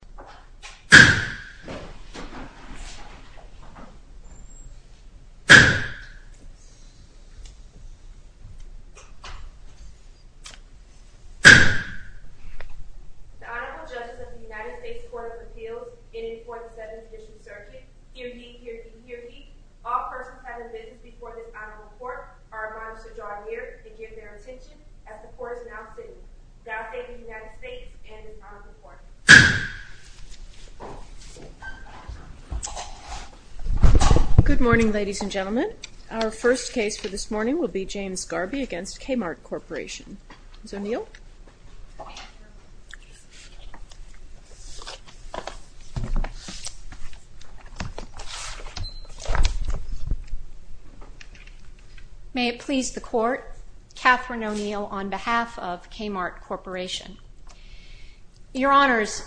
The Honorable Judges of the United States Court of Appeals in the 4th and 7th District Circuits, hear ye, hear ye, hear ye, all persons present before this honorable court are admonished to draw near and give their attention as the court is now sitting. The Honorable Judges of the United States Court of Appeals in the 4th and 7th District Circuits, hear ye, hear ye, all persons present before this honorable court are admonished to draw near and give their attention as the court is now sitting in the United States and in our court. Good morning ladies and gentlemen. Our first case for this morning will be James Garbe v. Kmart Corporation. Ms. O'Neill. May it please the court, Kathryn O'Neill on behalf of Kmart Corporation. Your Honors,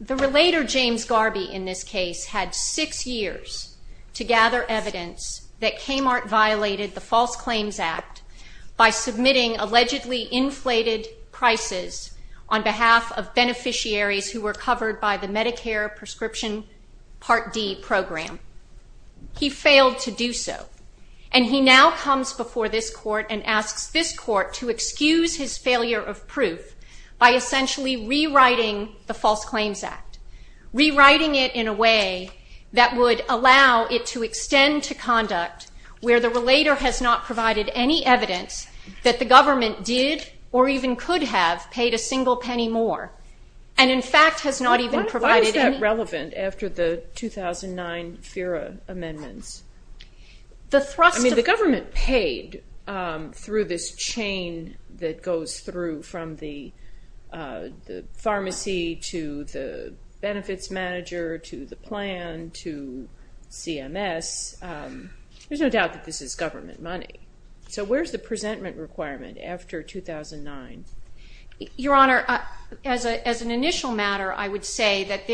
the relator James Garbe in this case had six years to gather evidence that Kmart violated the False Claims Act by submitting allegedly inflated prices on behalf of beneficiaries who were covered by the Medicare Prescription Part D program. He failed to do so and he now comes before this court and asks this court to excuse his failure of proof by essentially rewriting the False Claims Act. Rewriting it in a way that would allow it to extend to conduct where the relator has not provided any evidence that the government did or even could have paid a single penny more. Why is that relevant after the 2009 FIRA amendments? The government paid through this chain that goes through from the pharmacy to the benefits manager to the plan to CMS. There's no doubt that this is government money. So where's the presentment requirement after 2009? Your Honor, as an initial matter, I would say that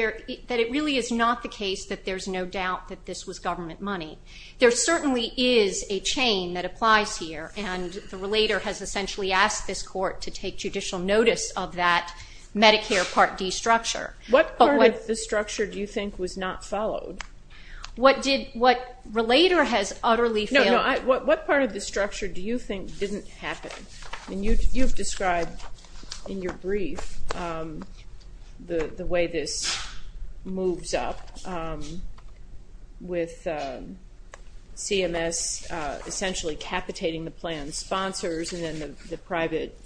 it really is not the case that there's no doubt that this was government money. There certainly is a chain that applies here and the relator has essentially asked this court to take judicial notice of that Medicare Part D structure. What part of the structure do you think was not followed? What did, what relator has utterly failed? No, no, what part of the structure do you think didn't happen? You've described in your brief the way this moves up with CMS essentially capitating the plan sponsors and then the private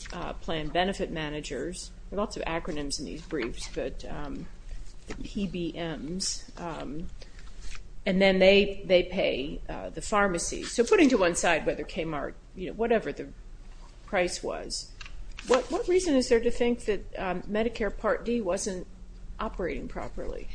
plan benefit managers. There are lots of acronyms in these briefs, but the PBMs, and then they pay the pharmacy. So putting to one side whether Kmart, whatever the price was, what reason is there to think that Medicare Part D wasn't operating properly?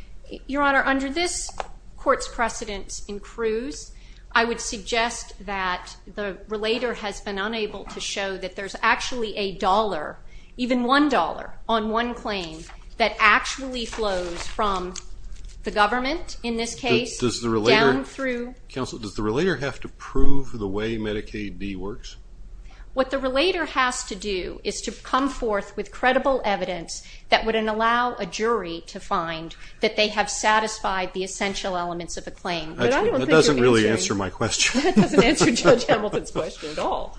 Your Honor, under this court's precedent in Cruz, I would suggest that the relator has been unable to show that there's actually a dollar, even one dollar on one claim that actually flows from the government in this case down through Counsel, does the relator have to prove the way Medicaid D works? What the relator has to do is to come forth with credible evidence that would allow a jury to find that they have satisfied the essential elements of a claim. That doesn't really answer my question. That doesn't answer Judge Hamilton's question at all.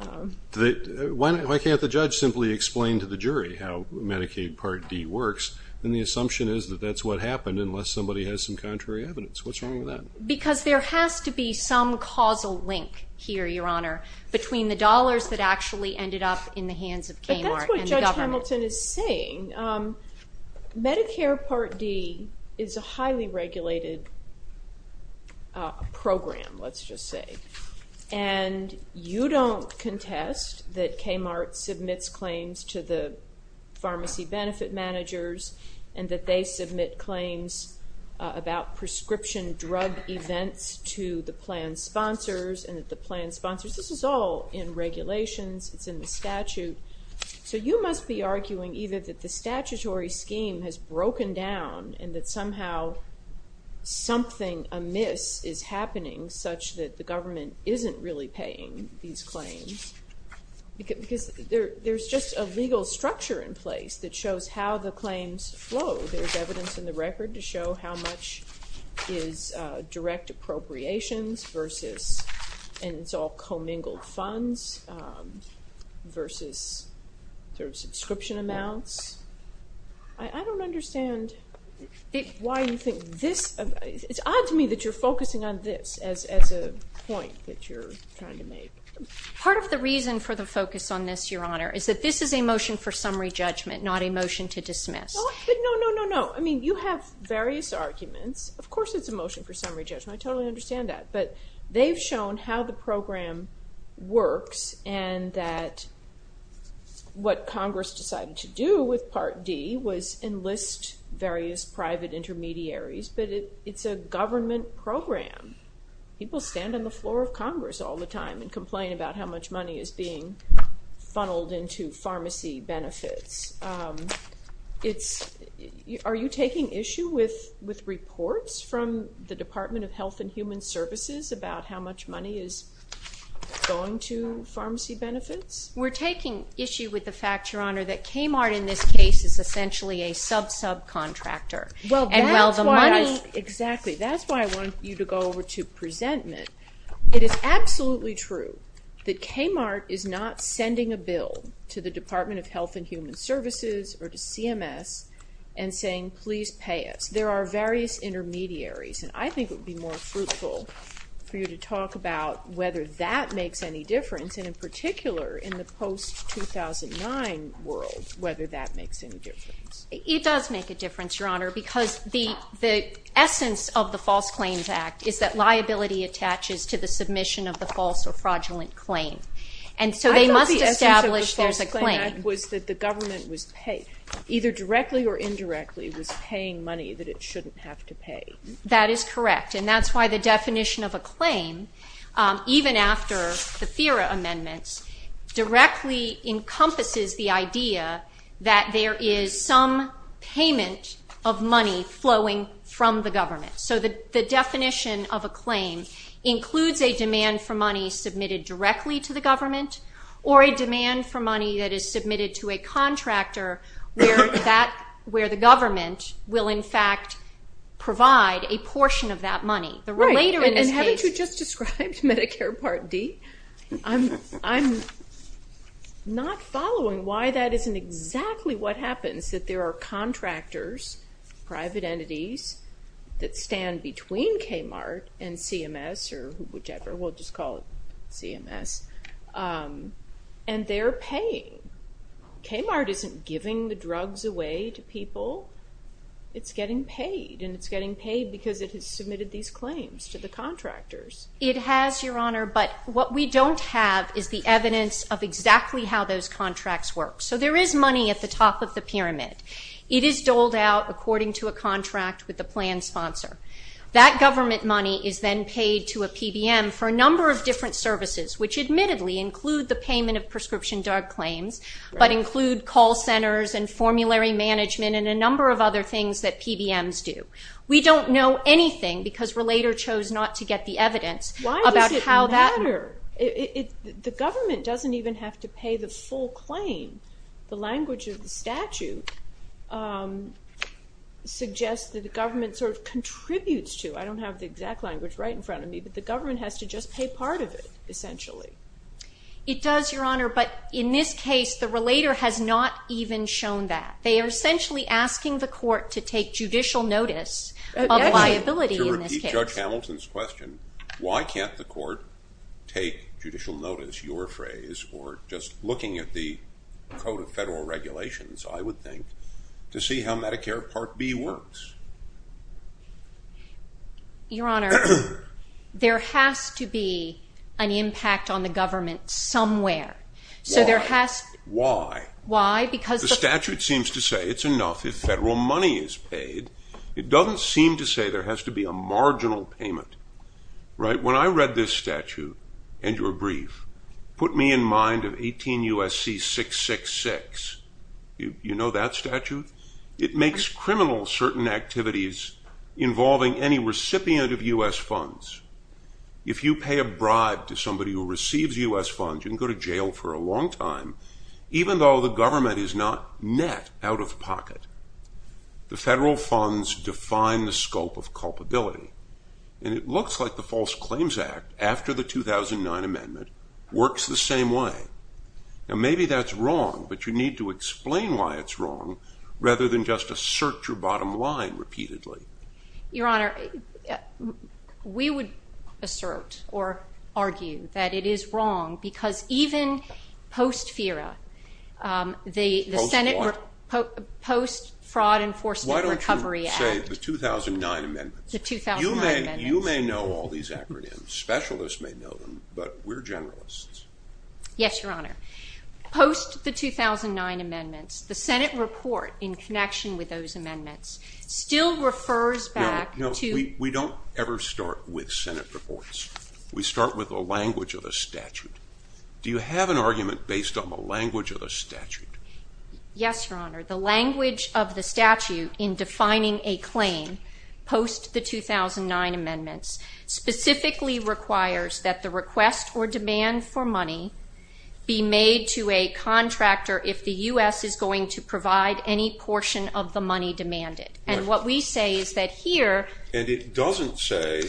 Why can't the judge simply explain to the jury how Medicaid Part D works? And the assumption is that that's what happened unless somebody has some contrary evidence. What's wrong with that? Because there has to be some causal link here, Your Honor, between the dollars that actually ended up in the hands of Kmart and the government. But that's what Judge Hamilton is saying. Medicare Part D is a highly regulated program, let's just say, and you don't contest that Kmart submits claims to the pharmacy benefit managers and that they submit claims about prescription drug events to the plan sponsors and that the plan sponsors, this is all in regulations. It's in the statute. So you must be arguing either that the statutory scheme has broken down and that somehow something amiss is happening such that the government isn't really paying these claims. Because there's just a legal structure in place that shows how the claims flow. There's evidence in the record to show how much is direct appropriations versus, and it's all commingled funds, versus sort of subscription amounts. I don't understand why you think this, it's odd to me that you're focusing on this as a point that you're trying to make. Part of the reason for the focus on this, Your Honor, is that this is a motion for summary judgment, not a motion to dismiss. No, no, no, no, no. I mean, you have various arguments. Of course it's a motion for summary judgment. I totally understand that. But they've shown how the program works and that what Congress decided to do with Part D was enlist various private intermediaries. But it's a government program. People stand on the floor of Congress all the time and complain about how much money is being funneled into pharmacy benefits. Are you taking issue with reports from the Department of Health and Human Services about how much money is going to pharmacy benefits? We're taking issue with the fact, Your Honor, that Kmart in this case is essentially a sub-subcontractor. Exactly. That's why I want you to go over to presentment. It is absolutely true that Kmart is not sending a bill to the Department of Health and Human Services or to CMS and saying, please pay us. There are various intermediaries, and I think it would be more fruitful for you to talk about whether that makes any difference, and in particular in the post-2009 world, whether that makes any difference. It does make a difference, Your Honor, because the essence of the False Claims Act is that liability attaches to the submission of the false or fraudulent claim. And so they must establish there's a claim. I thought the essence of the False Claim Act was that the government was paid, either directly or indirectly, was paying money that it shouldn't have to pay. That is correct. And that's why the definition of a claim, even after the FERA amendments, directly encompasses the idea that there is some payment of money flowing from the government. So the definition of a claim includes a demand for money submitted directly to the government or a demand for money that is submitted to a And haven't you just described Medicare Part D? I'm not following why that isn't exactly what happens, that there are contractors, private entities, that stand between KMART and CMS or whichever, we'll just call it CMS, and they're paying. KMART isn't giving the drugs away to people. It's getting paid, and it's getting paid because it has submitted these claims to the contractors. It has, Your Honor, but what we don't have is the evidence of exactly how those contracts work. So there is money at the top of the pyramid. It is doled out according to a contract with the plan sponsor. That government money is then paid to a PBM for a number of different services, which admittedly include the payment of prescription drug claims, but include call centers and formulary management and a number of other things that PBMs do. We don't know anything because Relator chose not to get the evidence about how that... Why does it matter? The government doesn't even have to pay the full claim. The language of the statute suggests that the government sort of contributes to. I don't have the exact language right in front of me, but the government has to just pay part of it, essentially. It does, Your Honor, but in this case, the Relator has not even shown that. They are essentially asking the court to take judicial notice of liability in this case. To repeat Judge Hamilton's question, why can't the court take judicial notice, your phrase, or just looking at the Code of Federal Regulations, I would think, to see how Medicare Part B works? Your Honor, there has to be an impact on the government somewhere. Why? Why? Why? Because... The statute seems to say it's enough if federal money is paid. It doesn't seem to say there has to be a marginal payment, right? When I read this statute and your brief, put me in mind of 18 U.S.C. 666. You know that statute? It makes criminal certain activities involving any recipient of U.S. funds. If you pay a bribe to somebody who receives U.S. funds, you can go to jail for a long time, even though the government is not net out-of-pocket. The federal funds define the scope of culpability, and it looks like the False Claims Act, after the 2009 amendment, works the same way. Now, maybe that's wrong, but you need to explain why it's wrong rather than just assert your bottom line repeatedly. Your Honor, we would assert or argue that it is wrong because even post-FERA, the Senate Post-Fraud Enforcement Recovery Act... Why don't you say the 2009 amendments? The 2009 amendments. You may know all these acronyms. Specialists may know them, but we're generalists. Yes, Your Honor. Post the 2009 amendments, the Senate report in connection with those amendments still refers back to... We don't ever start with Senate reports. We start with the language of the statute. Do you have an argument based on the language of the statute? Yes, Your Honor. The language of the statute in defining a claim post the 2009 amendments specifically requires that the request or demand for money be made to a contractor if the U.S. is going to provide any portion of the money demanded. And what we say is that here... And it doesn't say,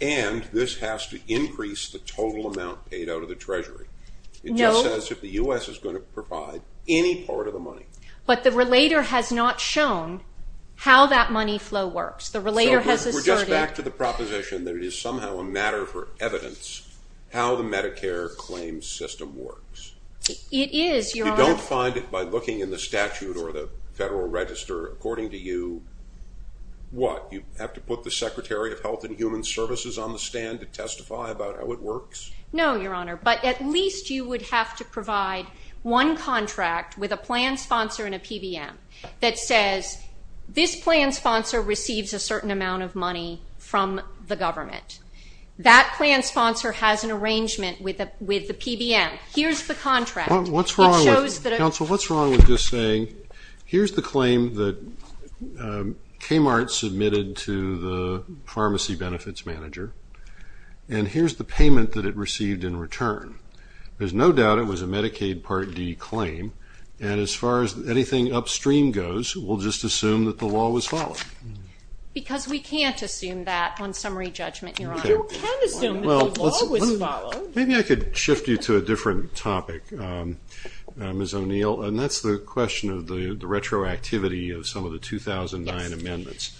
and this has to increase the total amount paid out of the Treasury. No. It just says if the U.S. is going to provide any part of the money. But the relator has not shown how that money flow works. The relator has asserted... So we're just back to the proposition that it is somehow a matter for evidence how the Medicare claims system works. It is, Your Honor. You don't find it by looking in the statute or the Federal Register, according to you, what? You have to put the Secretary of Health and Human Services on the stand to testify about how it works? No, Your Honor. But at least you would have to provide one contract with a plan sponsor and a PBM that says, this plan sponsor receives a certain amount of money from the government. That plan sponsor has an arrangement with the PBM. Here's the contract. What's wrong with... It shows that... Counsel, what's wrong with just saying, here's the claim that Kmart submitted to the pharmacy benefits manager, and here's the payment that it received in return. There's no doubt it was a Medicaid Part D claim, and as far as anything upstream goes, we'll just assume that the law was followed. Because we can't assume that on summary judgment, Your Honor. You can assume that the law was followed. Maybe I could shift you to a different topic, Ms. O'Neill, and that's the question of the retroactivity of some of the 2009 amendments.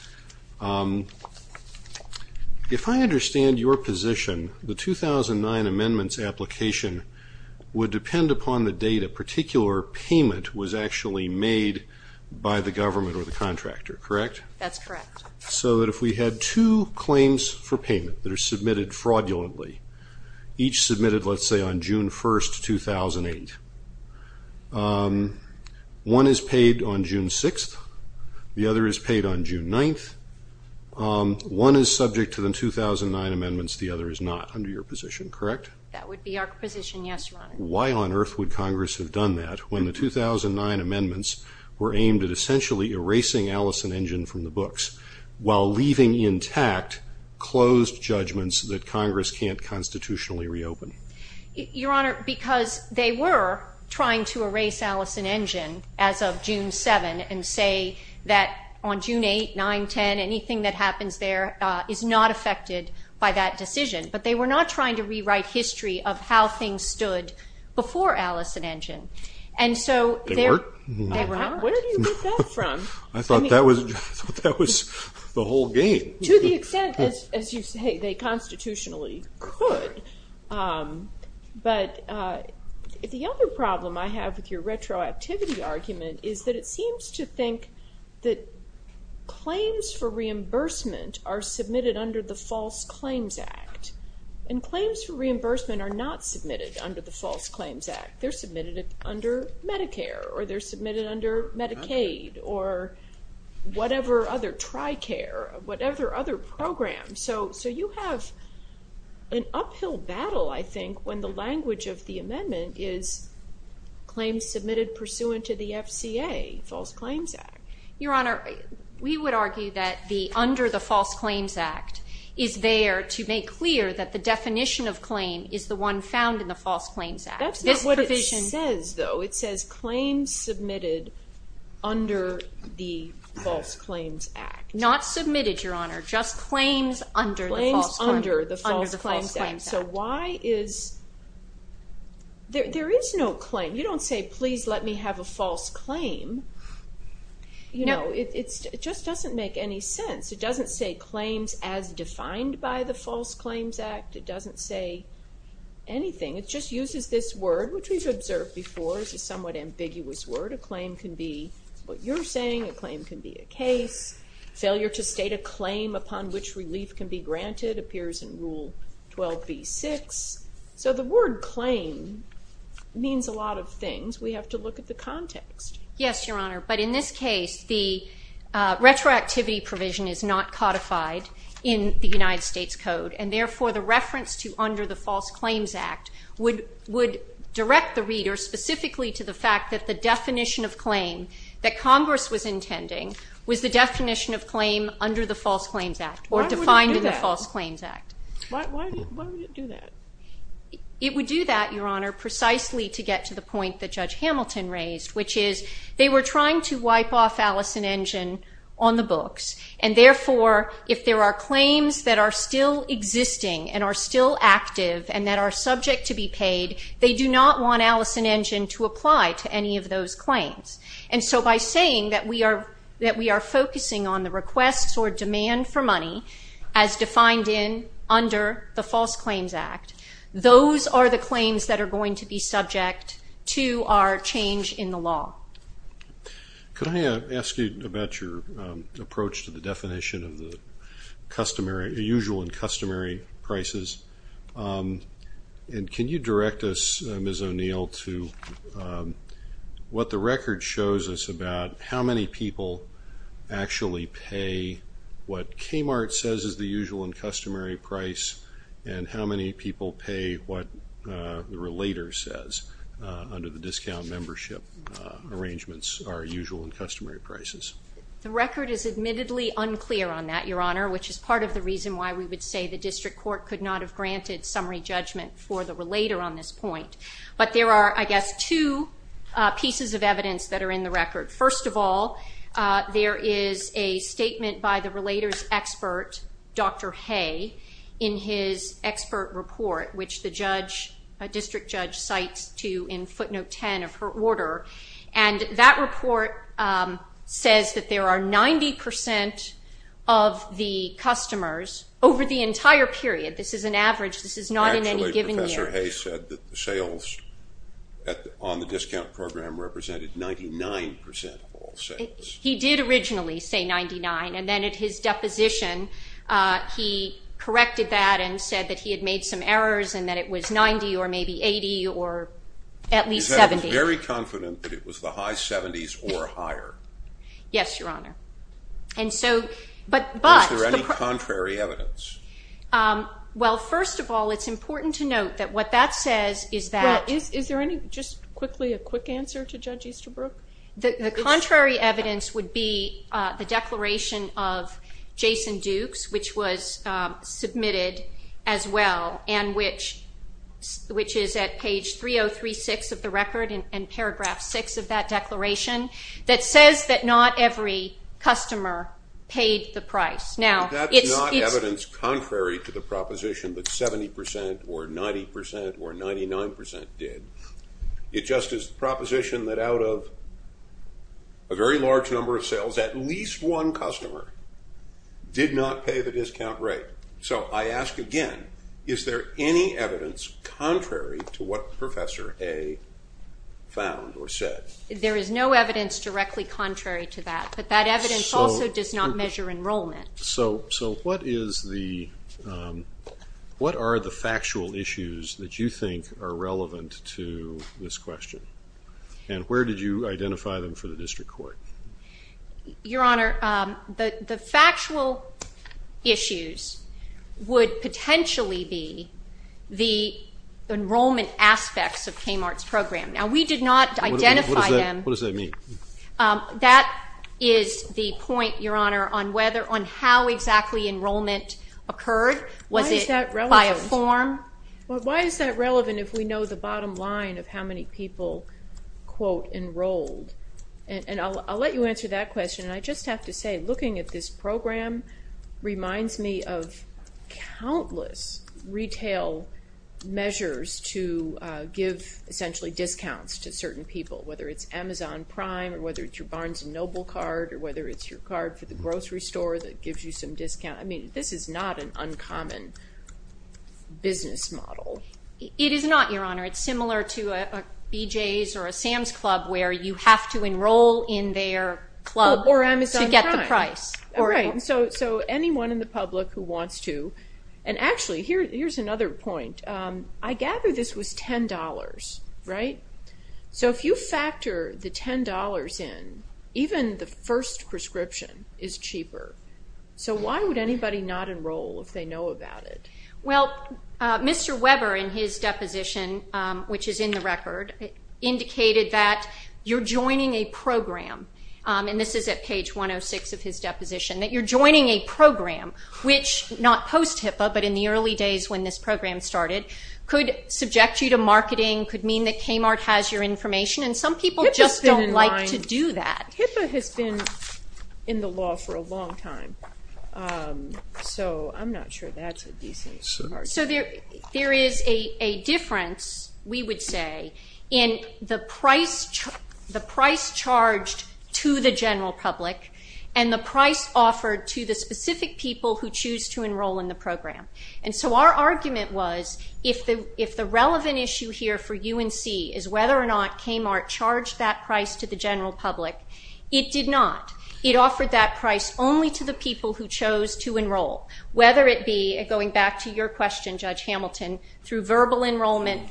If I understand your position, the 2009 amendments application would depend upon the date a particular payment was actually made by the government or the contractor, correct? That's correct. So that if we had two claims for payment that are submitted fraudulently, each submitted, let's say, on June 1st, 2008, one is paid on June 6th, the other is paid on June 9th, one is subject to the 2009 amendments, the other is not, under your position, correct? That would be our position, yes, Your Honor. Why on earth would Congress have done that when the 2009 amendments were aimed at essentially erasing Allison Engine from the books, while leaving intact closed judgments that Congress can't constitutionally reopen? Your Honor, because they were trying to erase Allison Engine as of June 7th and say that on June 8th, 9th, 10th, anything that happens there is not affected by that decision. But they were not trying to rewrite history of how things stood before Allison Engine. They weren't? They were not. Where do you get that from? I thought that was the whole game. To the extent, as you say, they constitutionally could. But the other problem I have with your retroactivity argument is that it seems to think that claims for reimbursement are submitted under the False Claims Act, and claims for reimbursement are not submitted under the False Claims Act. They're submitted under Medicare, or they're submitted under Medicaid, or whatever other, TRICARE, whatever other program. So you have an uphill battle, I think, when the language of the amendment is claims submitted pursuant to the FCA, False Claims Act. Your Honor, we would argue that under the False Claims Act is there to make clear that the definition of claim is the one found in the False Claims Act. That's not what it says, though. It says claims submitted under the False Claims Act. Not submitted, Your Honor, just claims under the False Claims Act. Claims under the False Claims Act. So why is... There is no claim. You don't say, please let me have a false claim. It just doesn't make any sense. It doesn't say claims as defined by the False Claims Act. It doesn't say anything. It just uses this word, which we've observed before. It's a somewhat ambiguous word. A claim can be what you're saying. A claim can be a case. Failure to state a claim upon which relief can be granted appears in Rule 12b-6. So the word claim means a lot of things. We have to look at the context. Yes, Your Honor. But in this case, the retroactivity provision is not codified in the United States Code, and therefore the reference to under the False Claims Act would direct the reader specifically to the fact that the definition of claim that Congress was intending was the definition of claim under the False Claims Act or defined in the False Claims Act. Why would it do that? It would do that, Your Honor, precisely to get to the point that Judge Hamilton raised, which is they were trying to wipe off Allison Engine on the books, and therefore if there are claims that are still existing and are still active and that are subject to be paid, they do not want Allison Engine to apply to any of those claims. And so by saying that we are focusing on the requests or demand for money as defined under the False Claims Act, those are the claims that are going to be subject to our change in the law. Could I ask you about your approach to the definition of the usual and customary prices? And can you direct us, Ms. O'Neill, to what the record shows us about how many people actually pay what Kmart says is the usual and customary price and how many people pay what the relator says under the discount membership arrangements are usual and customary prices? The record is admittedly unclear on that, Your Honor, which is part of the reason why we would say the District Court could not have granted summary judgment for the relator on this point. But there are, I guess, two pieces of evidence that are in the record. First of all, there is a statement by the relator's expert, Dr. Hay, in his expert report, which the district judge cites in footnote 10 of her order. And that report says that there are 90 percent of the customers over the entire period. This is an average. This is not in any given year. Actually, Professor Hay said that the sales on the discount program represented 99 percent of all sales. He did originally say 99, and then at his deposition, he corrected that and said that he had made some errors and that it was 90 or maybe 80 or at least 70. He said he was very confident that it was the high 70s or higher. Yes, Your Honor. Is there any contrary evidence? Well, first of all, it's important to note that what that says is that Is there just quickly a quick answer to Judge Easterbrook? The contrary evidence would be the declaration of Jason Duke's, which was submitted as well, and which is at page 3036 of the record and paragraph 6 of that declaration, that says that not every customer paid the price. That's not evidence contrary to the proposition that 70 percent or 90 percent or 99 percent did. It's just a proposition that out of a very large number of sales, at least one customer did not pay the discount rate. So I ask again, is there any evidence contrary to what Professor Hay found or said? There is no evidence directly contrary to that, but that evidence also does not measure enrollment. So what are the factual issues that you think are relevant to this question, and where did you identify them for the district court? Your Honor, the factual issues would potentially be the enrollment aspects of Kmart's program. Now we did not identify them. What does that mean? That is the point, Your Honor, on how exactly enrollment occurred. Was it by a form? Why is that relevant if we know the bottom line of how many people, quote, enrolled? And I'll let you answer that question, and I just have to say looking at this program reminds me of countless retail measures to give essentially discounts to certain people, whether it's Amazon Prime or whether it's your Barnes & Noble card or whether it's your card for the grocery store that gives you some discount. I mean, this is not an uncommon business model. It is not, Your Honor. It's similar to a BJ's or a Sam's Club where you have to enroll in their club to get the price. Or Amazon Prime. Right, so anyone in the public who wants to. And actually, here's another point. I gather this was $10, right? So if you factor the $10 in, even the first prescription is cheaper. So why would anybody not enroll if they know about it? Well, Mr. Weber in his deposition, which is in the record, indicated that you're joining a program, and this is at page 106 of his deposition, that you're joining a program which, not post-HIPAA, could subject you to marketing, could mean that Kmart has your information, and some people just don't like to do that. HIPAA has been in the law for a long time, so I'm not sure that's a decent argument. So there is a difference, we would say, in the price charged to the general public and the price offered to the specific people who choose to enroll in the program. And so our argument was, if the relevant issue here for UNC is whether or not Kmart charged that price to the general public, it did not. It offered that price only to the people who chose to enroll, whether it be, going back to your question, Judge Hamilton, through verbal enrollment,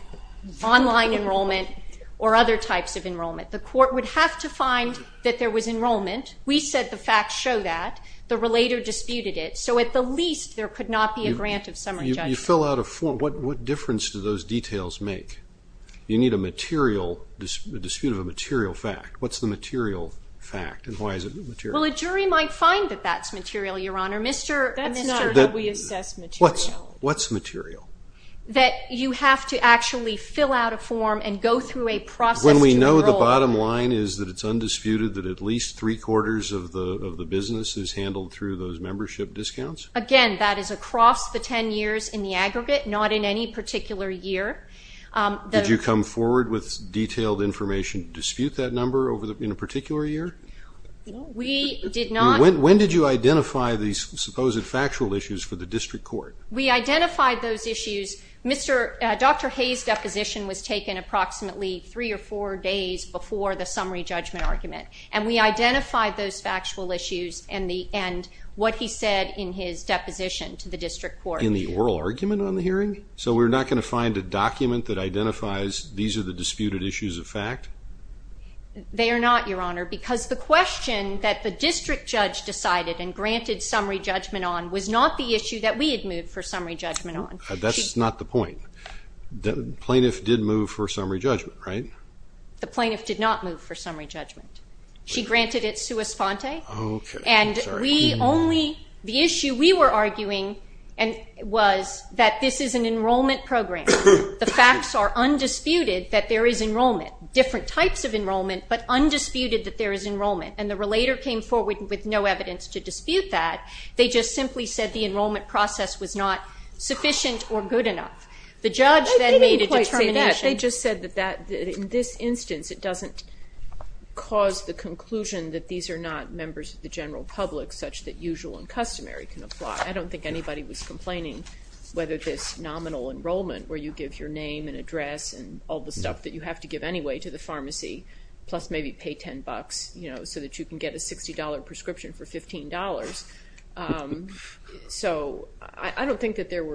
online enrollment, or other types of enrollment. The court would have to find that there was enrollment. We said the facts show that. The relator disputed it. So at the least, there could not be a grant of summary judgment. You fill out a form. What difference do those details make? You need a dispute of a material fact. What's the material fact, and why is it material? Well, a jury might find that that's material, Your Honor. That's not how we assess material. What's material? That you have to actually fill out a form and go through a process to enroll. When we know the bottom line is that it's undisputed that at least three-quarters of the business is handled through those membership discounts? Again, that is across the ten years in the aggregate, not in any particular year. Did you come forward with detailed information to dispute that number in a particular year? We did not. When did you identify these supposed factual issues for the district court? We identified those issues. Dr. Hayes' deposition was taken approximately three or four days before the summary judgment argument, and we identified those factual issues and what he said in his deposition to the district court. In the oral argument on the hearing? So we're not going to find a document that identifies these are the disputed issues of fact? They are not, Your Honor, because the question that the district judge decided and granted summary judgment on was not the issue that we had moved for summary judgment on. That's not the point. The plaintiff did move for summary judgment, right? The plaintiff did not move for summary judgment. She granted it sua sponte, and the issue we were arguing was that this is an enrollment program. The facts are undisputed that there is enrollment, different types of enrollment, but undisputed that there is enrollment, and the relator came forward with no evidence to dispute that. They just simply said the enrollment process was not sufficient or good enough. The judge then made a determination... In this instance, it doesn't cause the conclusion that these are not members of the general public such that usual and customary can apply. I don't think anybody was complaining whether this nominal enrollment where you give your name and address and all the stuff that you have to give anyway to the pharmacy, plus maybe pay $10, you know, so that you can get a $60 prescription for $15. So I don't think that there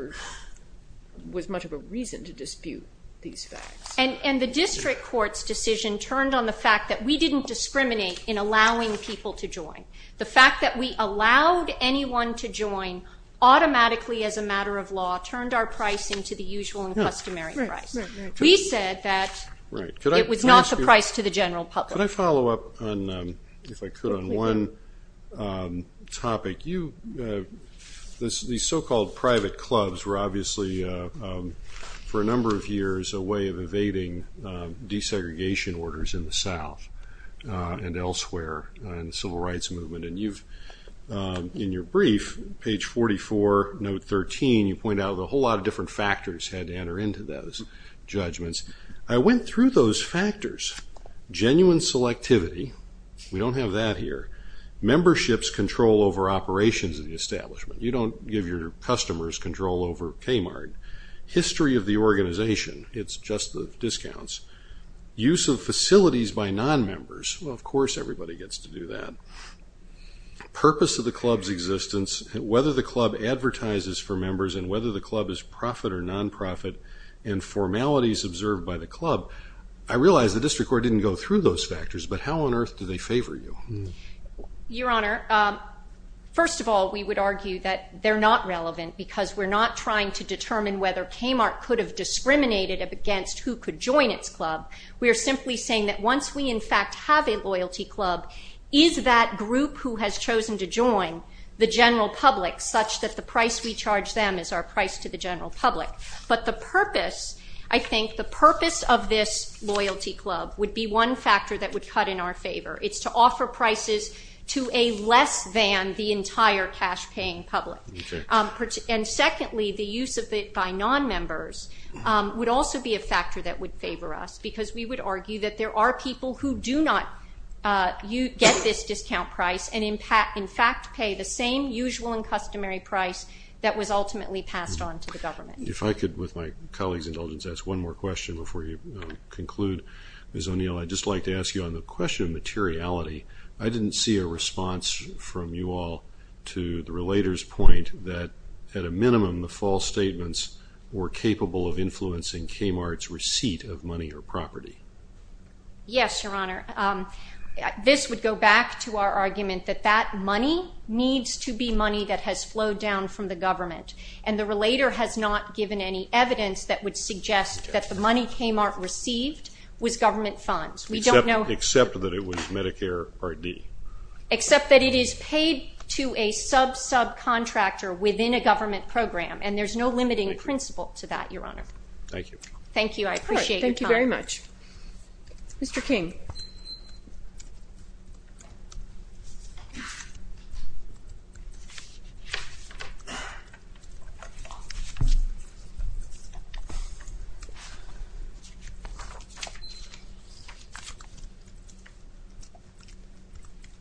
was much of a reason to dispute these facts. And the district court's decision turned on the fact that we didn't discriminate in allowing people to join. The fact that we allowed anyone to join automatically as a matter of law turned our pricing to the usual and customary price. We said that it was not the price to the general public. Could I follow up on, if I could, on one topic? These so-called private clubs were obviously for a number of years a way of evading desegregation orders in the South and elsewhere in the Civil Rights Movement. And in your brief, page 44, note 13, you point out a whole lot of different factors had to enter into those judgments. I went through those factors. Genuine selectivity, we don't have that here. Memberships control over operations of the establishment. You don't give your customers control over Kmart. History of the organization. It's just the discounts. Use of facilities by non-members. Well, of course everybody gets to do that. Purpose of the club's existence. Whether the club advertises for members and whether the club is profit or non-profit and formalities observed by the club. I realize the district court didn't go through those factors, but how on earth do they favor you? Your Honor, first of all, we would argue that they're not relevant because we're not trying to determine whether Kmart could have discriminated against who could join its club. We are simply saying that once we in fact have a loyalty club, is that group who has chosen to join the general public such that the price we charge them is our price to the general public? But the purpose, I think, the purpose of this loyalty club would be one factor that would cut in our favor. It's to offer prices to a less than the entire cash-paying public. And secondly, the use of it by non-members would also be a factor that would favor us because we would argue that there are people who do not get this discount price and in fact pay the same usual and customary price that was ultimately passed on to the government. If I could, with my colleague's indulgence, ask one more question before you conclude, Ms. O'Neill. I'd just like to ask you on the question of materiality, I didn't see a response from you all to the Relator's point that at a minimum, the false statements were capable of influencing Kmart's receipt of money or property. Yes, Your Honor. This would go back to our argument that that money needs to be money that has flowed down from the government. And the Relator has not given any evidence that would suggest that the money Kmart received was government funds. We don't know... Except that it was Medicare R.D. Except that it is paid to a sub-subcontractor within a government program and there's no limiting principle to that, Your Honor. Thank you. Thank you, I appreciate your time. Thank you very much. Mr. King.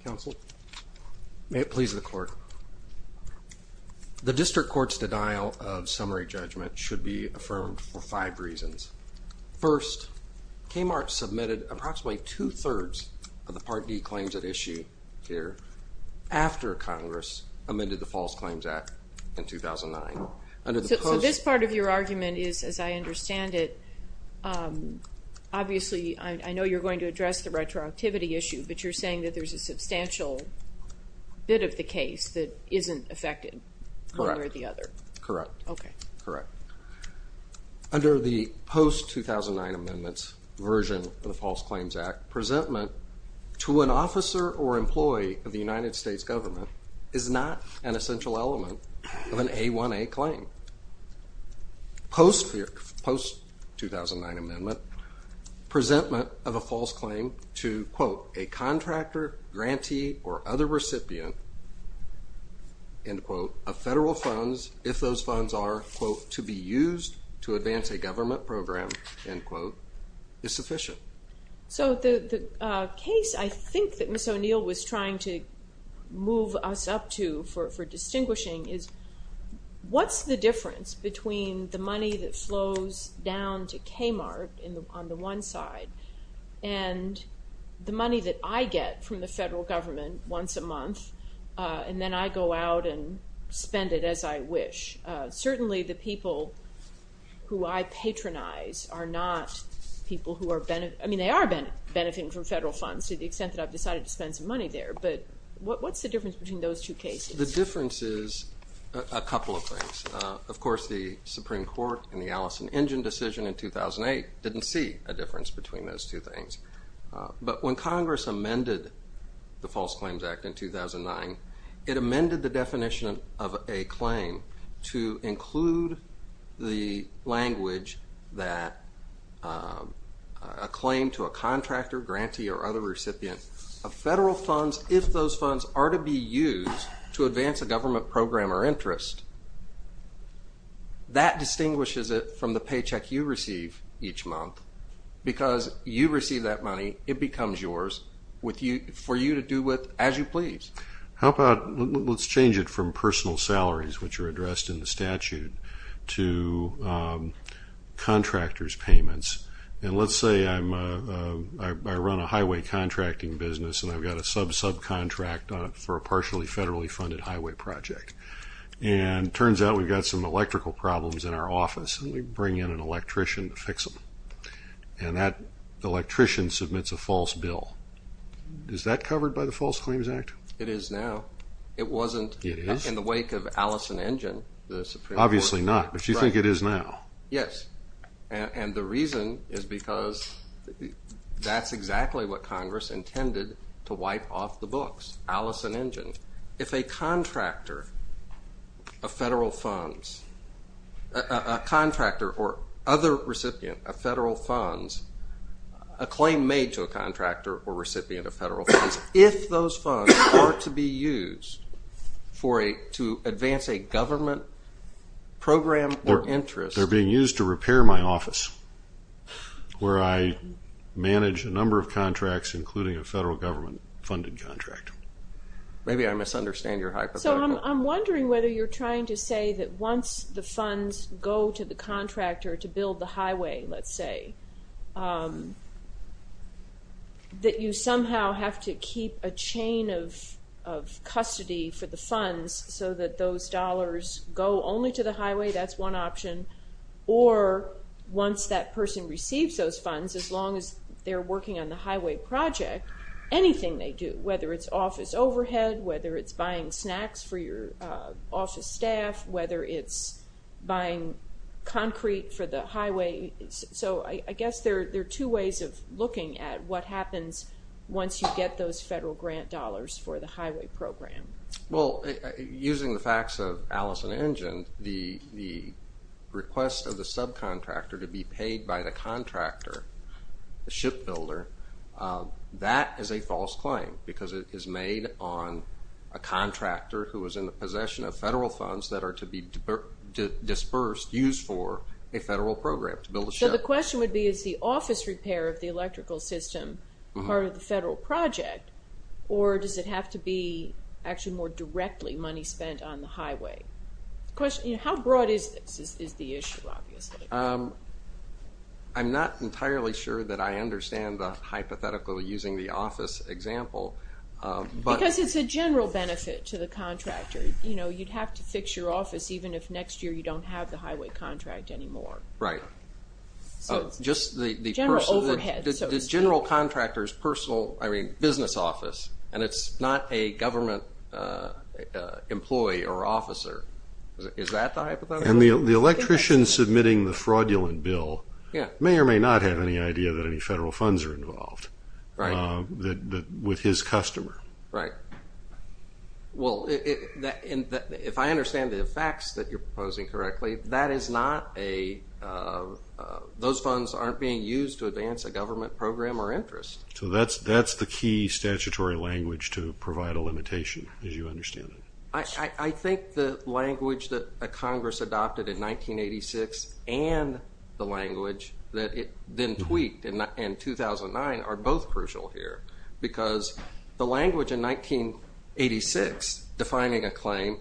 Counsel. May it please the Court. The District Court's denial of summary judgment should be affirmed for five reasons. First, Kmart submitted approximately two-thirds of the Part D claims at issue here after Congress amended the False Claims Act in 2009. So this part of your argument is, as I understand it, obviously, I know you're going to address the retroactivity issue, but you're saying that there's a substantial bit of the case that isn't affected one way or the other. Correct. Okay. Correct. Under the post-2009 amendments version of the False Claims Act, presentment to an officer or employee of the United States government is not an essential element of an A1A claim. Post-2009 amendment, presentment of a false claim to, quote, a contractor, grantee, or other recipient, end quote, of federal funds, if those funds are, quote, to be used to advance a government program, end quote, is sufficient. So the case I think that Ms. O'Neill was trying to move us up to for distinguishing is what's the difference between the money that flows down to Kmart on the one side and the money that I get from the federal government once a month, and then I go out and spend it as I wish. Certainly, the people who I patronize are not people who are benefiting. I mean, they are benefiting from federal funds to the extent that I've decided to spend some money there, but what's the difference between those two cases? The difference is a couple of things. Of course, the Supreme Court and the Allison Injun decision in 2008 didn't see a difference between those two things, but when Congress amended the False Claims Act in 2009, it amended the definition of a claim to include the language that a claim to a contractor, grantee, or other recipient of federal funds, if those funds are to be used to advance a government program or interest, that distinguishes it from the paycheck you receive each month because you receive that money. It becomes yours for you to do with as you please. How about let's change it from personal salaries, which are addressed in the statute, to contractors' payments, and let's say I run a highway contracting business and I've got a sub-subcontract on it for a partially federally funded highway project, and it turns out we've got some electrical problems in our office and we bring in an electrician to fix them, and that electrician submits a false bill. Is that covered by the False Claims Act? It is now. It wasn't in the wake of Allison Injun. Obviously not, but you think it is now. Yes, and the reason is because that's exactly what Congress intended to wipe off the books, Allison Injun. If a contractor of federal funds, a contractor or other recipient of federal funds, a claim made to a contractor or recipient of federal funds, if those funds are to be used to advance a government program or interest. They're being used to repair my office where I manage a number of contracts, including a federal government-funded contract. Maybe I misunderstand your hypothetical. So I'm wondering whether you're trying to say that once the funds go to the contractor to build the highway, let's say, that you somehow have to keep a chain of custody for the funds so that those dollars go only to the highway. That's one option. Or once that person receives those funds, as long as they're working on the highway project, anything they do, whether it's office overhead, whether it's buying snacks for your office staff, whether it's buying concrete for the highway. So I guess there are two ways of looking at what happens once you get those federal grant dollars for the highway program. Well, using the facts of Allison Injun, the request of the subcontractor to be paid by the contractor, the shipbuilder, that is a false claim because it is made on a contractor who is in the possession of federal funds that are to be dispersed, used for a federal program to build a ship. So the question would be is the office repair of the electrical system part of the federal project, or does it have to be actually more directly money spent on the highway? How broad is this is the issue, obviously. I'm not entirely sure that I understand the hypothetical using the office example. Because it's a general benefit to the contractor. You'd have to fix your office even if next year you don't have the highway contract anymore. Right. General overhead, so to speak. The general contractor's business office, and it's not a government employee or officer. Is that the hypothetical? The electrician submitting the fraudulent bill may or may not have any idea that any federal funds are involved with his customer. Right. Well, if I understand the facts that you're proposing correctly, those funds aren't being used to advance a government program or interest. So that's the key statutory language to provide a limitation, as you understand it. I think the language that Congress adopted in 1986 and the language that it then tweaked in 2009 are both crucial here. Because the language in 1986 defining a claim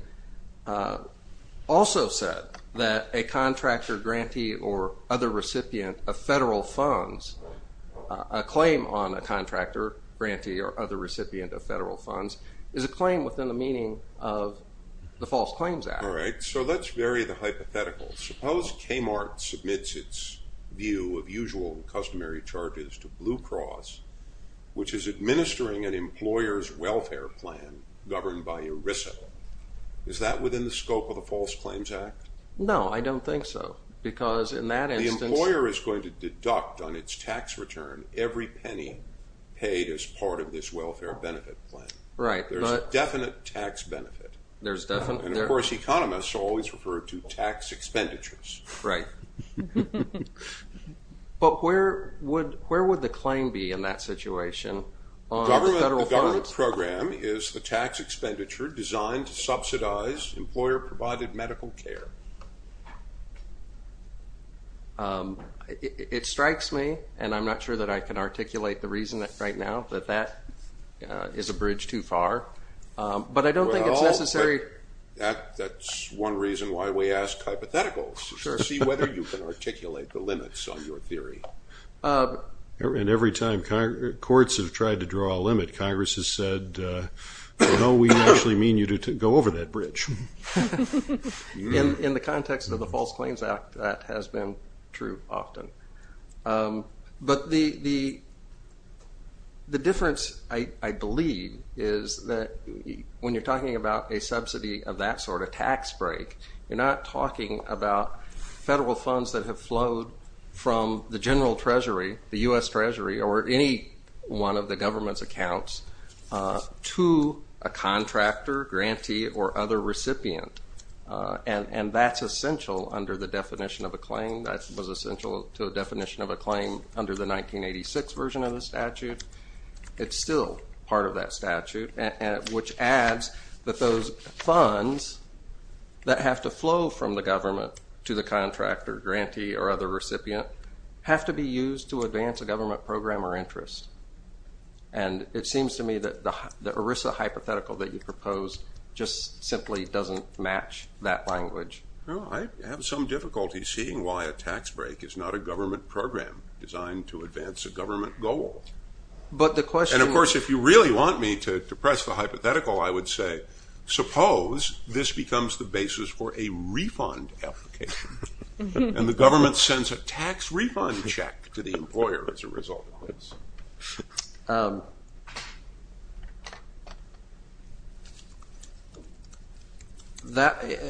also said that a contractor, grantee, or other recipient of federal funds, a claim on a contractor, grantee, or other recipient of federal funds, is a claim within the meaning of the False Claims Act. All right, so let's vary the hypothetical. Suppose Kmart submits its view of usual and customary charges to Blue Cross, which is administering an employer's welfare plan governed by ERISA. Is that within the scope of the False Claims Act? No, I don't think so. Because in that instance— The employer is going to deduct on its tax return every penny paid as part of this welfare benefit plan. Right, but— There's a definite tax benefit. And, of course, economists always refer to tax expenditures. Right. But where would the claim be in that situation on federal funds? The government program is the tax expenditure designed to subsidize employer-provided medical care. It strikes me, and I'm not sure that I can articulate the reason right now, that that is a bridge too far. But I don't think it's necessary— That's one reason why we ask hypotheticals, to see whether you can articulate the limits on your theory. And every time courts have tried to draw a limit, Congress has said, no, we actually mean you to go over that bridge. In the context of the False Claims Act, that has been true often. But the difference, I believe, is that when you're talking about a subsidy of that sort, a tax break, you're not talking about federal funds that have flowed from the general treasury, the U.S. Treasury, or any one of the government's accounts, to a contractor, grantee, or other recipient. And that's essential under the definition of a claim. That was essential to a definition of a claim under the 1986 version of the statute. It's still part of that statute, which adds that those funds that have to flow from the government to the to advance a government program or interest. And it seems to me that the ERISA hypothetical that you proposed just simply doesn't match that language. I have some difficulty seeing why a tax break is not a government program designed to advance a government goal. And of course, if you really want me to press the hypothetical, I would say, suppose this becomes the basis for a refund application, and the government sends a tax refund check to the employer as a result.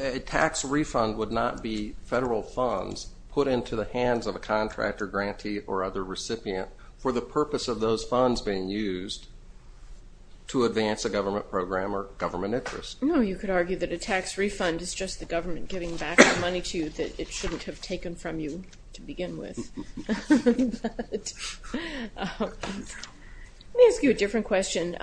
A tax refund would not be federal funds put into the hands of a contractor, grantee, or other recipient for the purpose of those funds being used to advance a government program or government interest. No, you could argue that a tax refund is just the government giving back the money to you that it shouldn't have taken from you to begin with. Let me ask you a different question.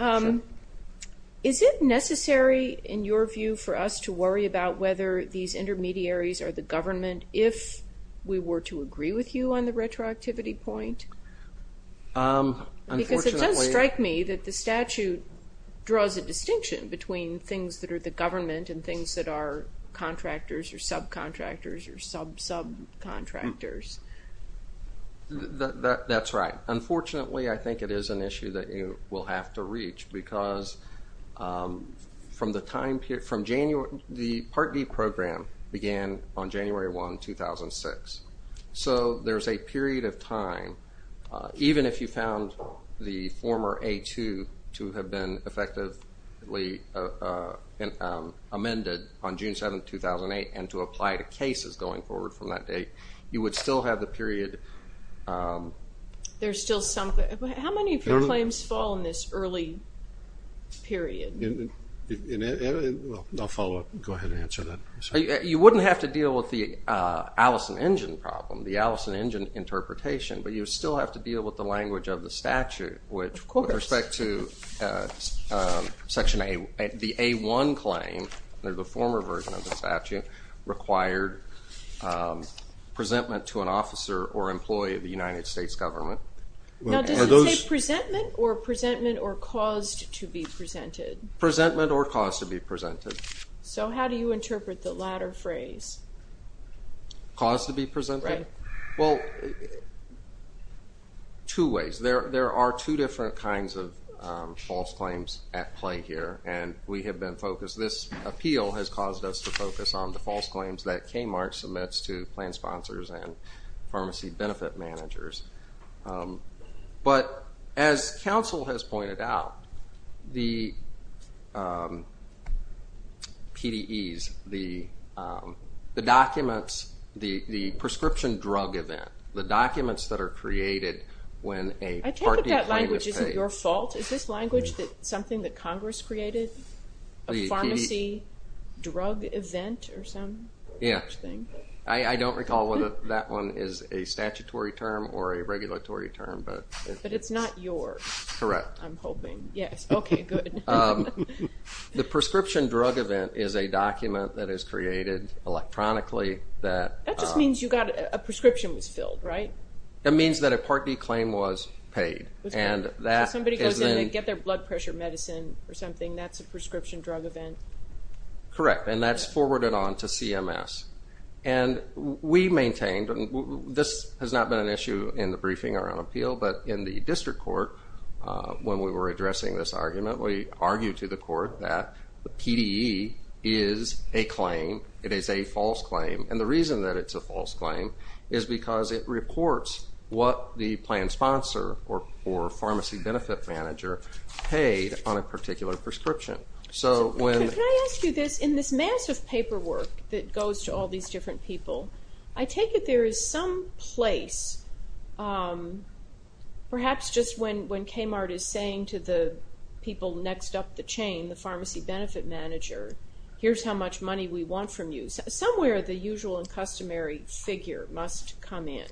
Is it necessary, in your view, for us to worry about whether these intermediaries are the government if we were to agree with you on the retroactivity point? Because it does strike me that the statute draws a distinction between things that are the government and things that are contractors or subcontractors or sub-subcontractors. That's right. Unfortunately, I think it is an issue that you will have to reach because the Part D program began on January 1, 2006. So there's a period of time, even if you found the former A2, to have been effectively amended on June 7, 2008, and to apply to cases going forward from that date, you would still have the period... There's still some... How many of your claims fall in this early period? I'll follow up. Go ahead and answer that. You wouldn't have to deal with the Allison Injun problem, the Allison Injun interpretation, but you still have to deal with the language of the statute, which with respect to Section A, the A1 claim, the former version of the statute, required presentment to an officer or employee of the United States government. Now, does it say presentment or presentment or caused to be presented? Presentment or caused to be presented. So how do you interpret the latter phrase? Caused to be presented? Right. Well, two ways. There are two different kinds of false claims at play here, and we have been focused... This appeal has caused us to focus on the false claims that KMARC submits to plan sponsors and pharmacy benefit managers. But as counsel has pointed out, the PDEs, the documents, the prescription drug event, the documents that are created when a party claim is paid... I can't put that language. Is it your fault? Is this language something that Congress created, a pharmacy drug event or some such thing? Yeah. I don't recall whether that one is a statutory term or a regulatory term. But it's not yours. Correct. I'm hoping. Yes. Okay, good. The prescription drug event is a document that is created electronically that... That means that a party claim was paid. So somebody goes in, they get their blood pressure medicine or something, that's a prescription drug event? Correct, and that's forwarded on to CMS. And we maintained, and this has not been an issue in the briefing or on appeal, but in the district court, when we were addressing this argument, we argued to the court that the PDE is a claim, it is a false claim. And the reason that it's a false claim is because it reports what the planned sponsor or pharmacy benefit manager paid on a particular prescription. Can I ask you this? In this massive paperwork that goes to all these different people, I take it there is some place, perhaps just when Kmart is saying to the people next up the chain, the pharmacy benefit manager, here's how much money we want from you. Somewhere the usual and customary figure must come in.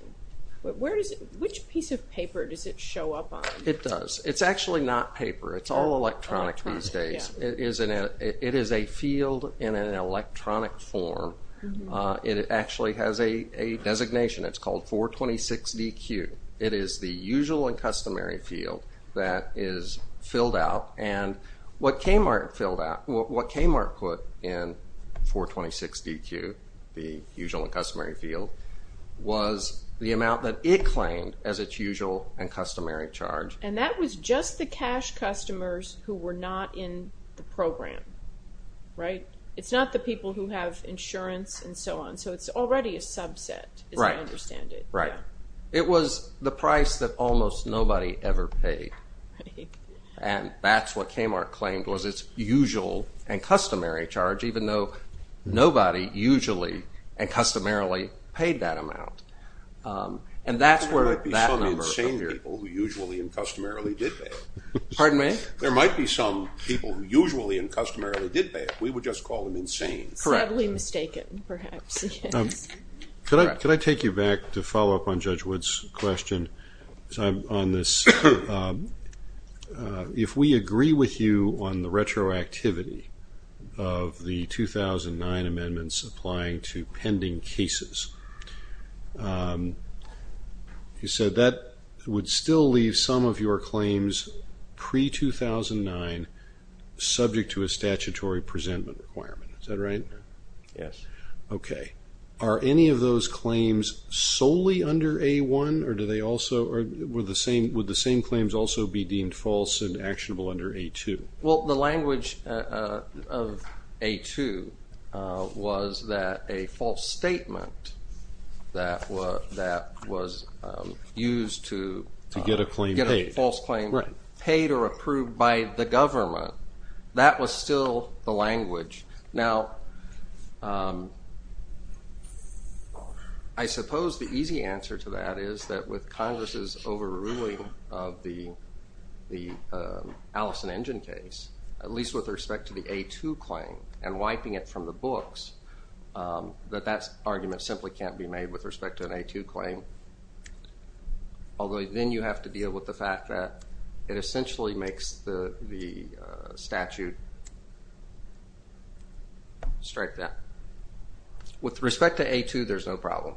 Which piece of paper does it show up on? It does. It's actually not paper. It's all electronic these days. It is a field in an electronic form. It actually has a designation. It's called 426DQ. It is the usual and customary field that is filled out. And what Kmart filled out, what Kmart put in 426DQ, the usual and customary field, was the amount that it claimed as its usual and customary charge. And that was just the cash customers who were not in the program, right? It's not the people who have insurance and so on. So it's already a subset as I understand it. Right. It was the price that almost nobody ever paid. And that's what Kmart claimed was its usual and customary charge, even though nobody usually and customarily paid that amount. And that's where that number appeared. There might be some insane people who usually and customarily did pay. Pardon me? There might be some people who usually and customarily did pay. We would just call them insane. Correct. Sadly mistaken, perhaps. Could I take you back to follow up on Judge Wood's question? On this, if we agree with you on the retroactivity of the 2009 amendments applying to pending cases, he said that would still leave some of your claims pre-2009 subject to a statutory presentment requirement. Is that right? Yes. Okay. Are any of those claims solely under A-1, or would the same claims also be deemed false and actionable under A-2? Well, the language of A-2 was that a false statement that was used to get a false claim paid or approved by the government, that was still the language. Now, I suppose the easy answer to that is that with Congress's overruling of the Allison Engine case, at least with respect to the A-2 claim and wiping it from the books, that that argument simply can't be made with respect to an A-2 claim, although then you have to deal with the fact that it strike that. With respect to A-2, there's no problem.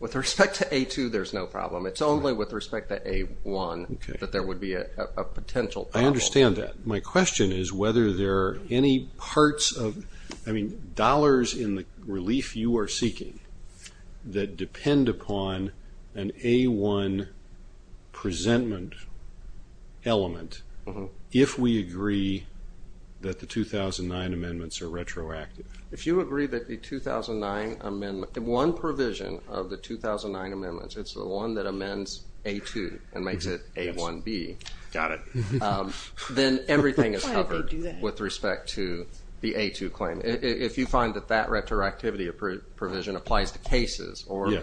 With respect to A-2, there's no problem. It's only with respect to A-1 that there would be a potential problem. I understand that. My question is whether there are any parts of, I mean, dollars in the relief you are seeking that depend upon an A-1 presentment element if we agree that the 2009 amendments are retroactive. If you agree that the 2009 amendment, one provision of the 2009 amendments, it's the one that amends A-2 and makes it A-1B. Got it. Then everything is covered with respect to the A-2 claim. If you find that that retroactivity provision applies to cases or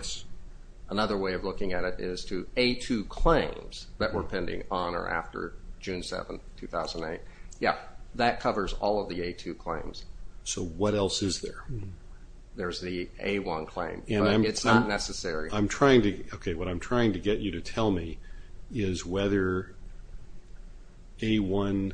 another way of looking at it is to A-2 claims that were pending on or after June 7, 2008, yeah, that covers all of the A-2 claims. So what else is there? There's the A-1 claim, but it's not necessary. Okay. What I'm trying to get you to tell me is whether A-1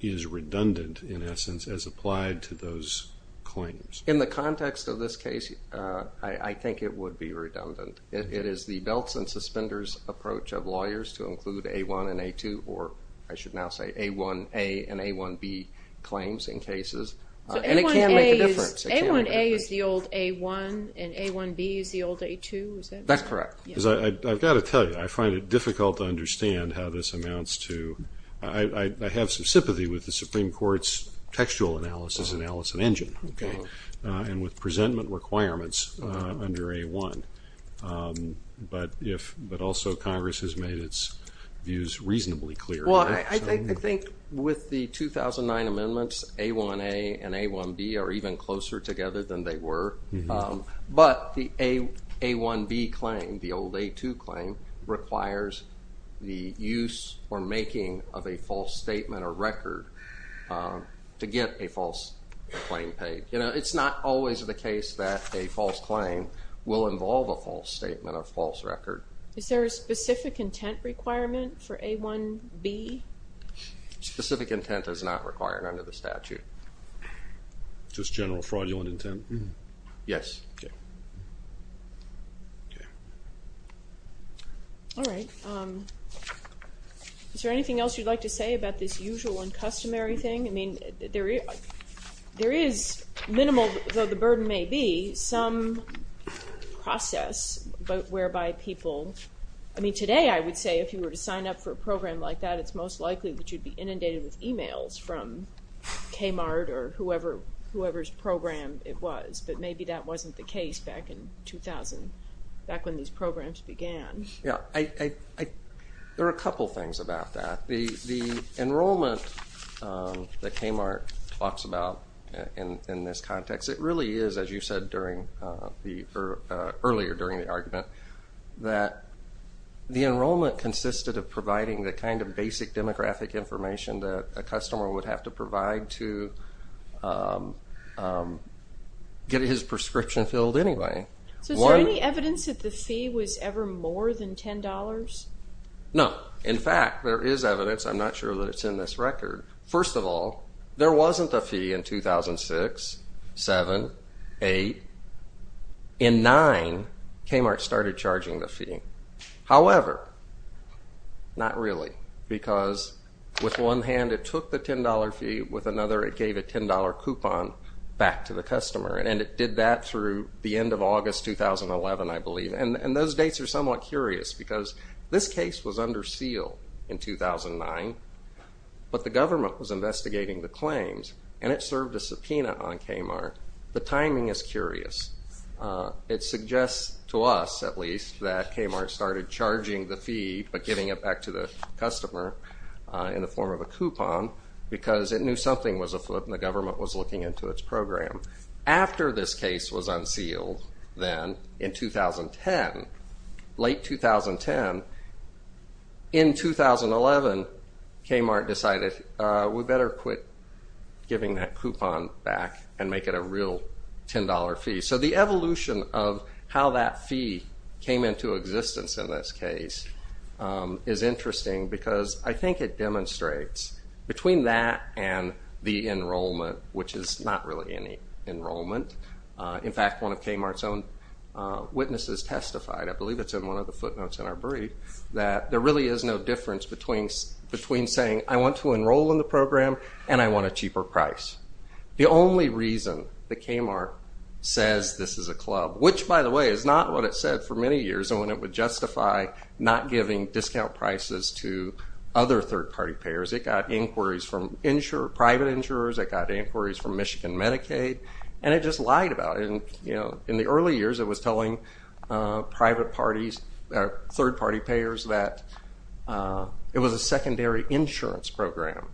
is redundant, in essence, as applied to those claims. In the context of this case, I think it would be redundant. It is the belts and suspenders approach of lawyers to include A-1 and A-2, or I should now say A-1A and A-1B claims in cases, and it can make a difference. So A-1A is the old A-1 and A-1B is the old A-2, is that right? That's correct. I've got to tell you, I find it difficult to understand how this amounts to, I have some sympathy with the Supreme Court's textual analysis, and with presentment requirements under A-1, but also Congress has made its views reasonably clear. Well, I think with the 2009 amendments, A-1A and A-1B are even closer together than they were, but the A-1B claim, the old A-2 claim, requires the use or making of a false statement or record to get a false claim paid. You know, it's not always the case that a false claim will involve a false statement or false record. Is there a specific intent requirement for A-1B? Specific intent is not required under the statute. Just general fraudulent intent? Yes. Okay. All right. Is there anything else you'd like to say about this usual and customary thing? I mean, there is minimal, though the burden may be, some process whereby people, I mean, today I would say if you were to sign up for a program like that, it's most likely that you'd be inundated with e-mails from KMART or whoever's program it was, but maybe that wasn't the case back in 2000, back when these programs began. Yeah. There are a couple things about that. The enrollment that KMART talks about in this context, it really is, as you said earlier during the argument, that the enrollment consisted of providing the kind of basic demographic information that a customer would have to provide to get his prescription filled anyway. So is there any evidence that the fee was ever more than $10? No. In fact, there is evidence. I'm not sure that it's in this record. First of all, there wasn't a fee in 2006, 7, 8. In 9, KMART started charging the fee. However, not really, because with one hand it took the $10 fee, with another it gave a $10 coupon back to the customer, and those dates are somewhat curious because this case was under seal in 2009, but the government was investigating the claims, and it served a subpoena on KMART. The timing is curious. It suggests to us, at least, that KMART started charging the fee but giving it back to the customer in the form of a coupon because it knew something was afoot and the government was looking into its program. After this case was unsealed, then, in 2010, late 2010, in 2011, KMART decided we better quit giving that coupon back and make it a real $10 fee. So the evolution of how that fee came into existence in this case is interesting because I think it demonstrates between that and the enrollment, which is not really any enrollment. In fact, one of KMART's own witnesses testified, I believe it's in one of the footnotes in our brief, that there really is no difference between saying, I want to enroll in the program and I want a cheaper price. The only reason that KMART says this is a club, which, by the way, is not what it said for many years and when it would justify not giving discount prices to other third-party payers, it got inquiries from private insurers, it got inquiries from Michigan Medicaid, and it just lied about it. In the early years, it was telling private parties, third-party payers, that it was a secondary insurance program.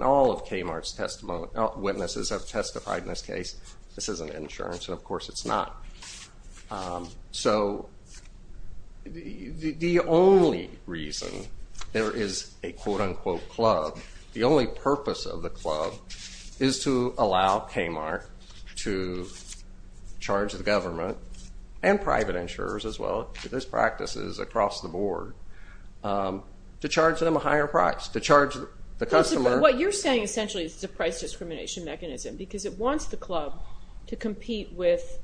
All of KMART's witnesses have testified in this case, this isn't insurance and, of course, it's not. So the only reason there is a quote-unquote club, the only purpose of the club is to allow KMART to charge the government and private insurers as well, because this practice is across the board, to charge them a higher price, to charge the customer. What you're saying essentially is it's a price discrimination mechanism because it wants the club to compete with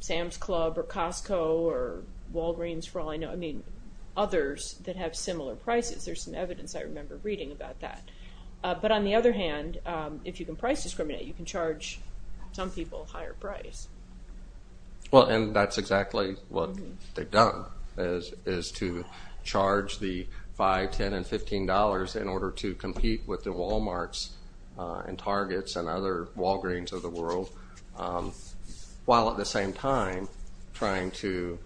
Sam's Club or Costco or Walgreens for all I know, I mean, others that have similar prices. There's some evidence I remember reading about that. But on the other hand, if you can price discriminate, you can charge some people a higher price. Well, and that's exactly what they've done, is to charge the $5, $10, and $15 in order to compete with the Walmarts and Targets and other Walgreens of the world, while at the same time trying to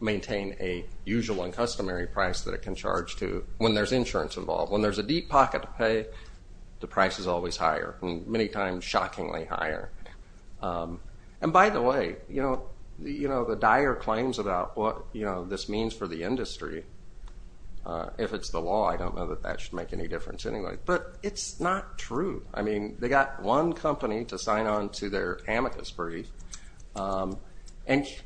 maintain a usual and customary price that it can charge to when there's insurance involved. When there's a deep pocket to pay, the price is always higher, many times shockingly higher. And by the way, the dire claims about what this means for the industry, if it's the law, I don't know that that should make any difference anyway, but it's not true. I mean, they got one company to sign on to their amicus brief, and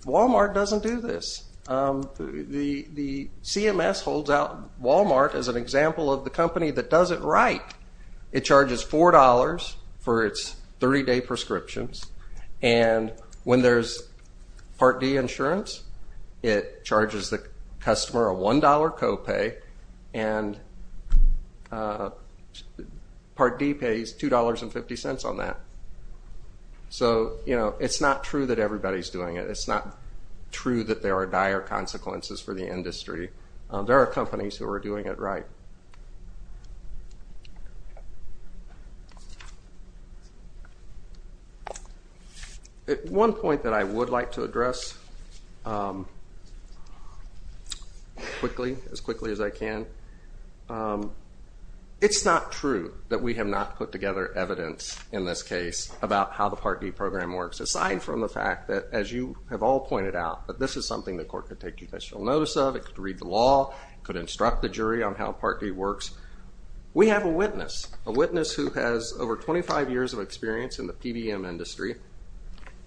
Walmart doesn't do this. The CMS holds out Walmart as an example of the company that does it right. It charges $4 for its 30-day prescriptions, and when there's Part D insurance, it charges the customer a $1 copay, and Part D pays $2.50 on that. So, you know, it's not true that everybody's doing it. It's not true that there are dire consequences for the industry. There are companies who are doing it right. At one point that I would like to address as quickly as I can, it's not true that we have not put together evidence in this case about how the Part D program works, aside from the fact that, as you have all pointed out, that this is something the court could take judicial notice of, it could read the law, it could instruct the jury on how Part D works. We have a witness, a witness who has over 25 years of experience in the PBM industry,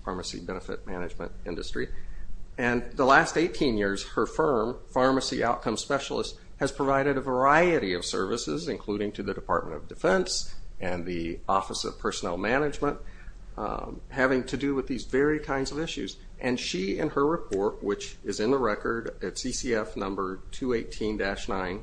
pharmacy benefit management industry, and the last 18 years her firm, Pharmacy Outcome Specialist, has provided a variety of services, including to the Department of Defense and the Office of Personnel Management, having to do with these very kinds of issues. And she, in her report, which is in the record at CCF number 218-9,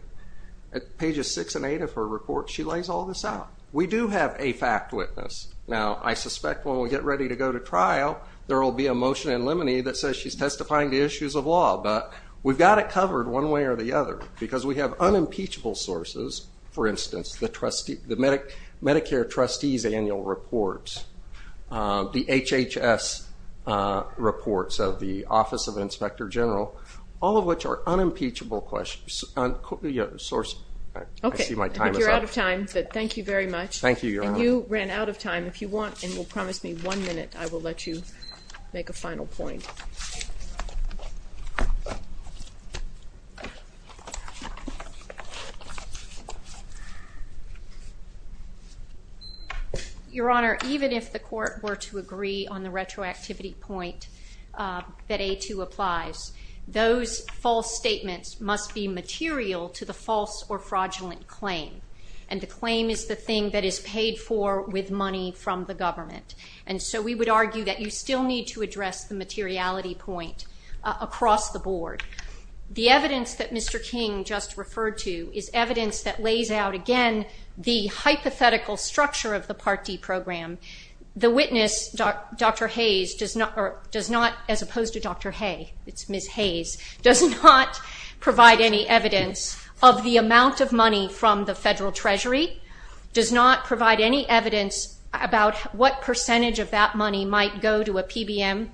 at pages 6 and 8 of her report, she lays all this out. We do have a fact witness. Now, I suspect when we get ready to go to trial, there will be a motion in limine that says she's testifying to issues of law, but we've got it covered one way or the other, because we have unimpeachable sources, for instance, the Medicare Trustees Annual Reports, the HHS reports of the Office of Inspector General, all of which are unimpeachable sources. Okay. I see my time is up. You're out of time, but thank you very much. Thank you, Your Honor. And you ran out of time. If you want and will promise me one minute, I will let you make a final point. Your Honor, even if the Court were to agree on the retroactivity point that A2 applies, those false statements must be material to the false or fraudulent claim, and the claim is the thing that is paid for with money from the government. And so we would argue that you still need to address the materiality point across the board. The evidence that Mr. King just referred to is evidence that lays out, again, the hypothetical structure of the Part D program. The witness, Dr. Hayes, does not, as opposed to Dr. Hay, it's Ms. Hayes, does not provide any evidence of the amount of money from the Federal Treasury, does not provide any evidence about what percentage of that money might go to a PBM,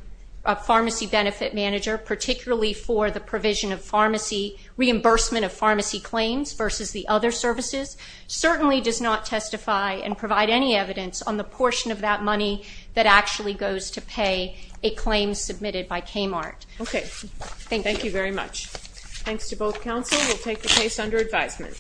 a pharmacy benefit manager, particularly for the provision of pharmacy, reimbursement of pharmacy claims versus the other services, certainly does not testify and provide any evidence on the portion of that money that actually goes to pay a claim submitted by KMART. Okay. Thank you. Thank you very much. Thanks to both counsel. We'll take the case under advisement.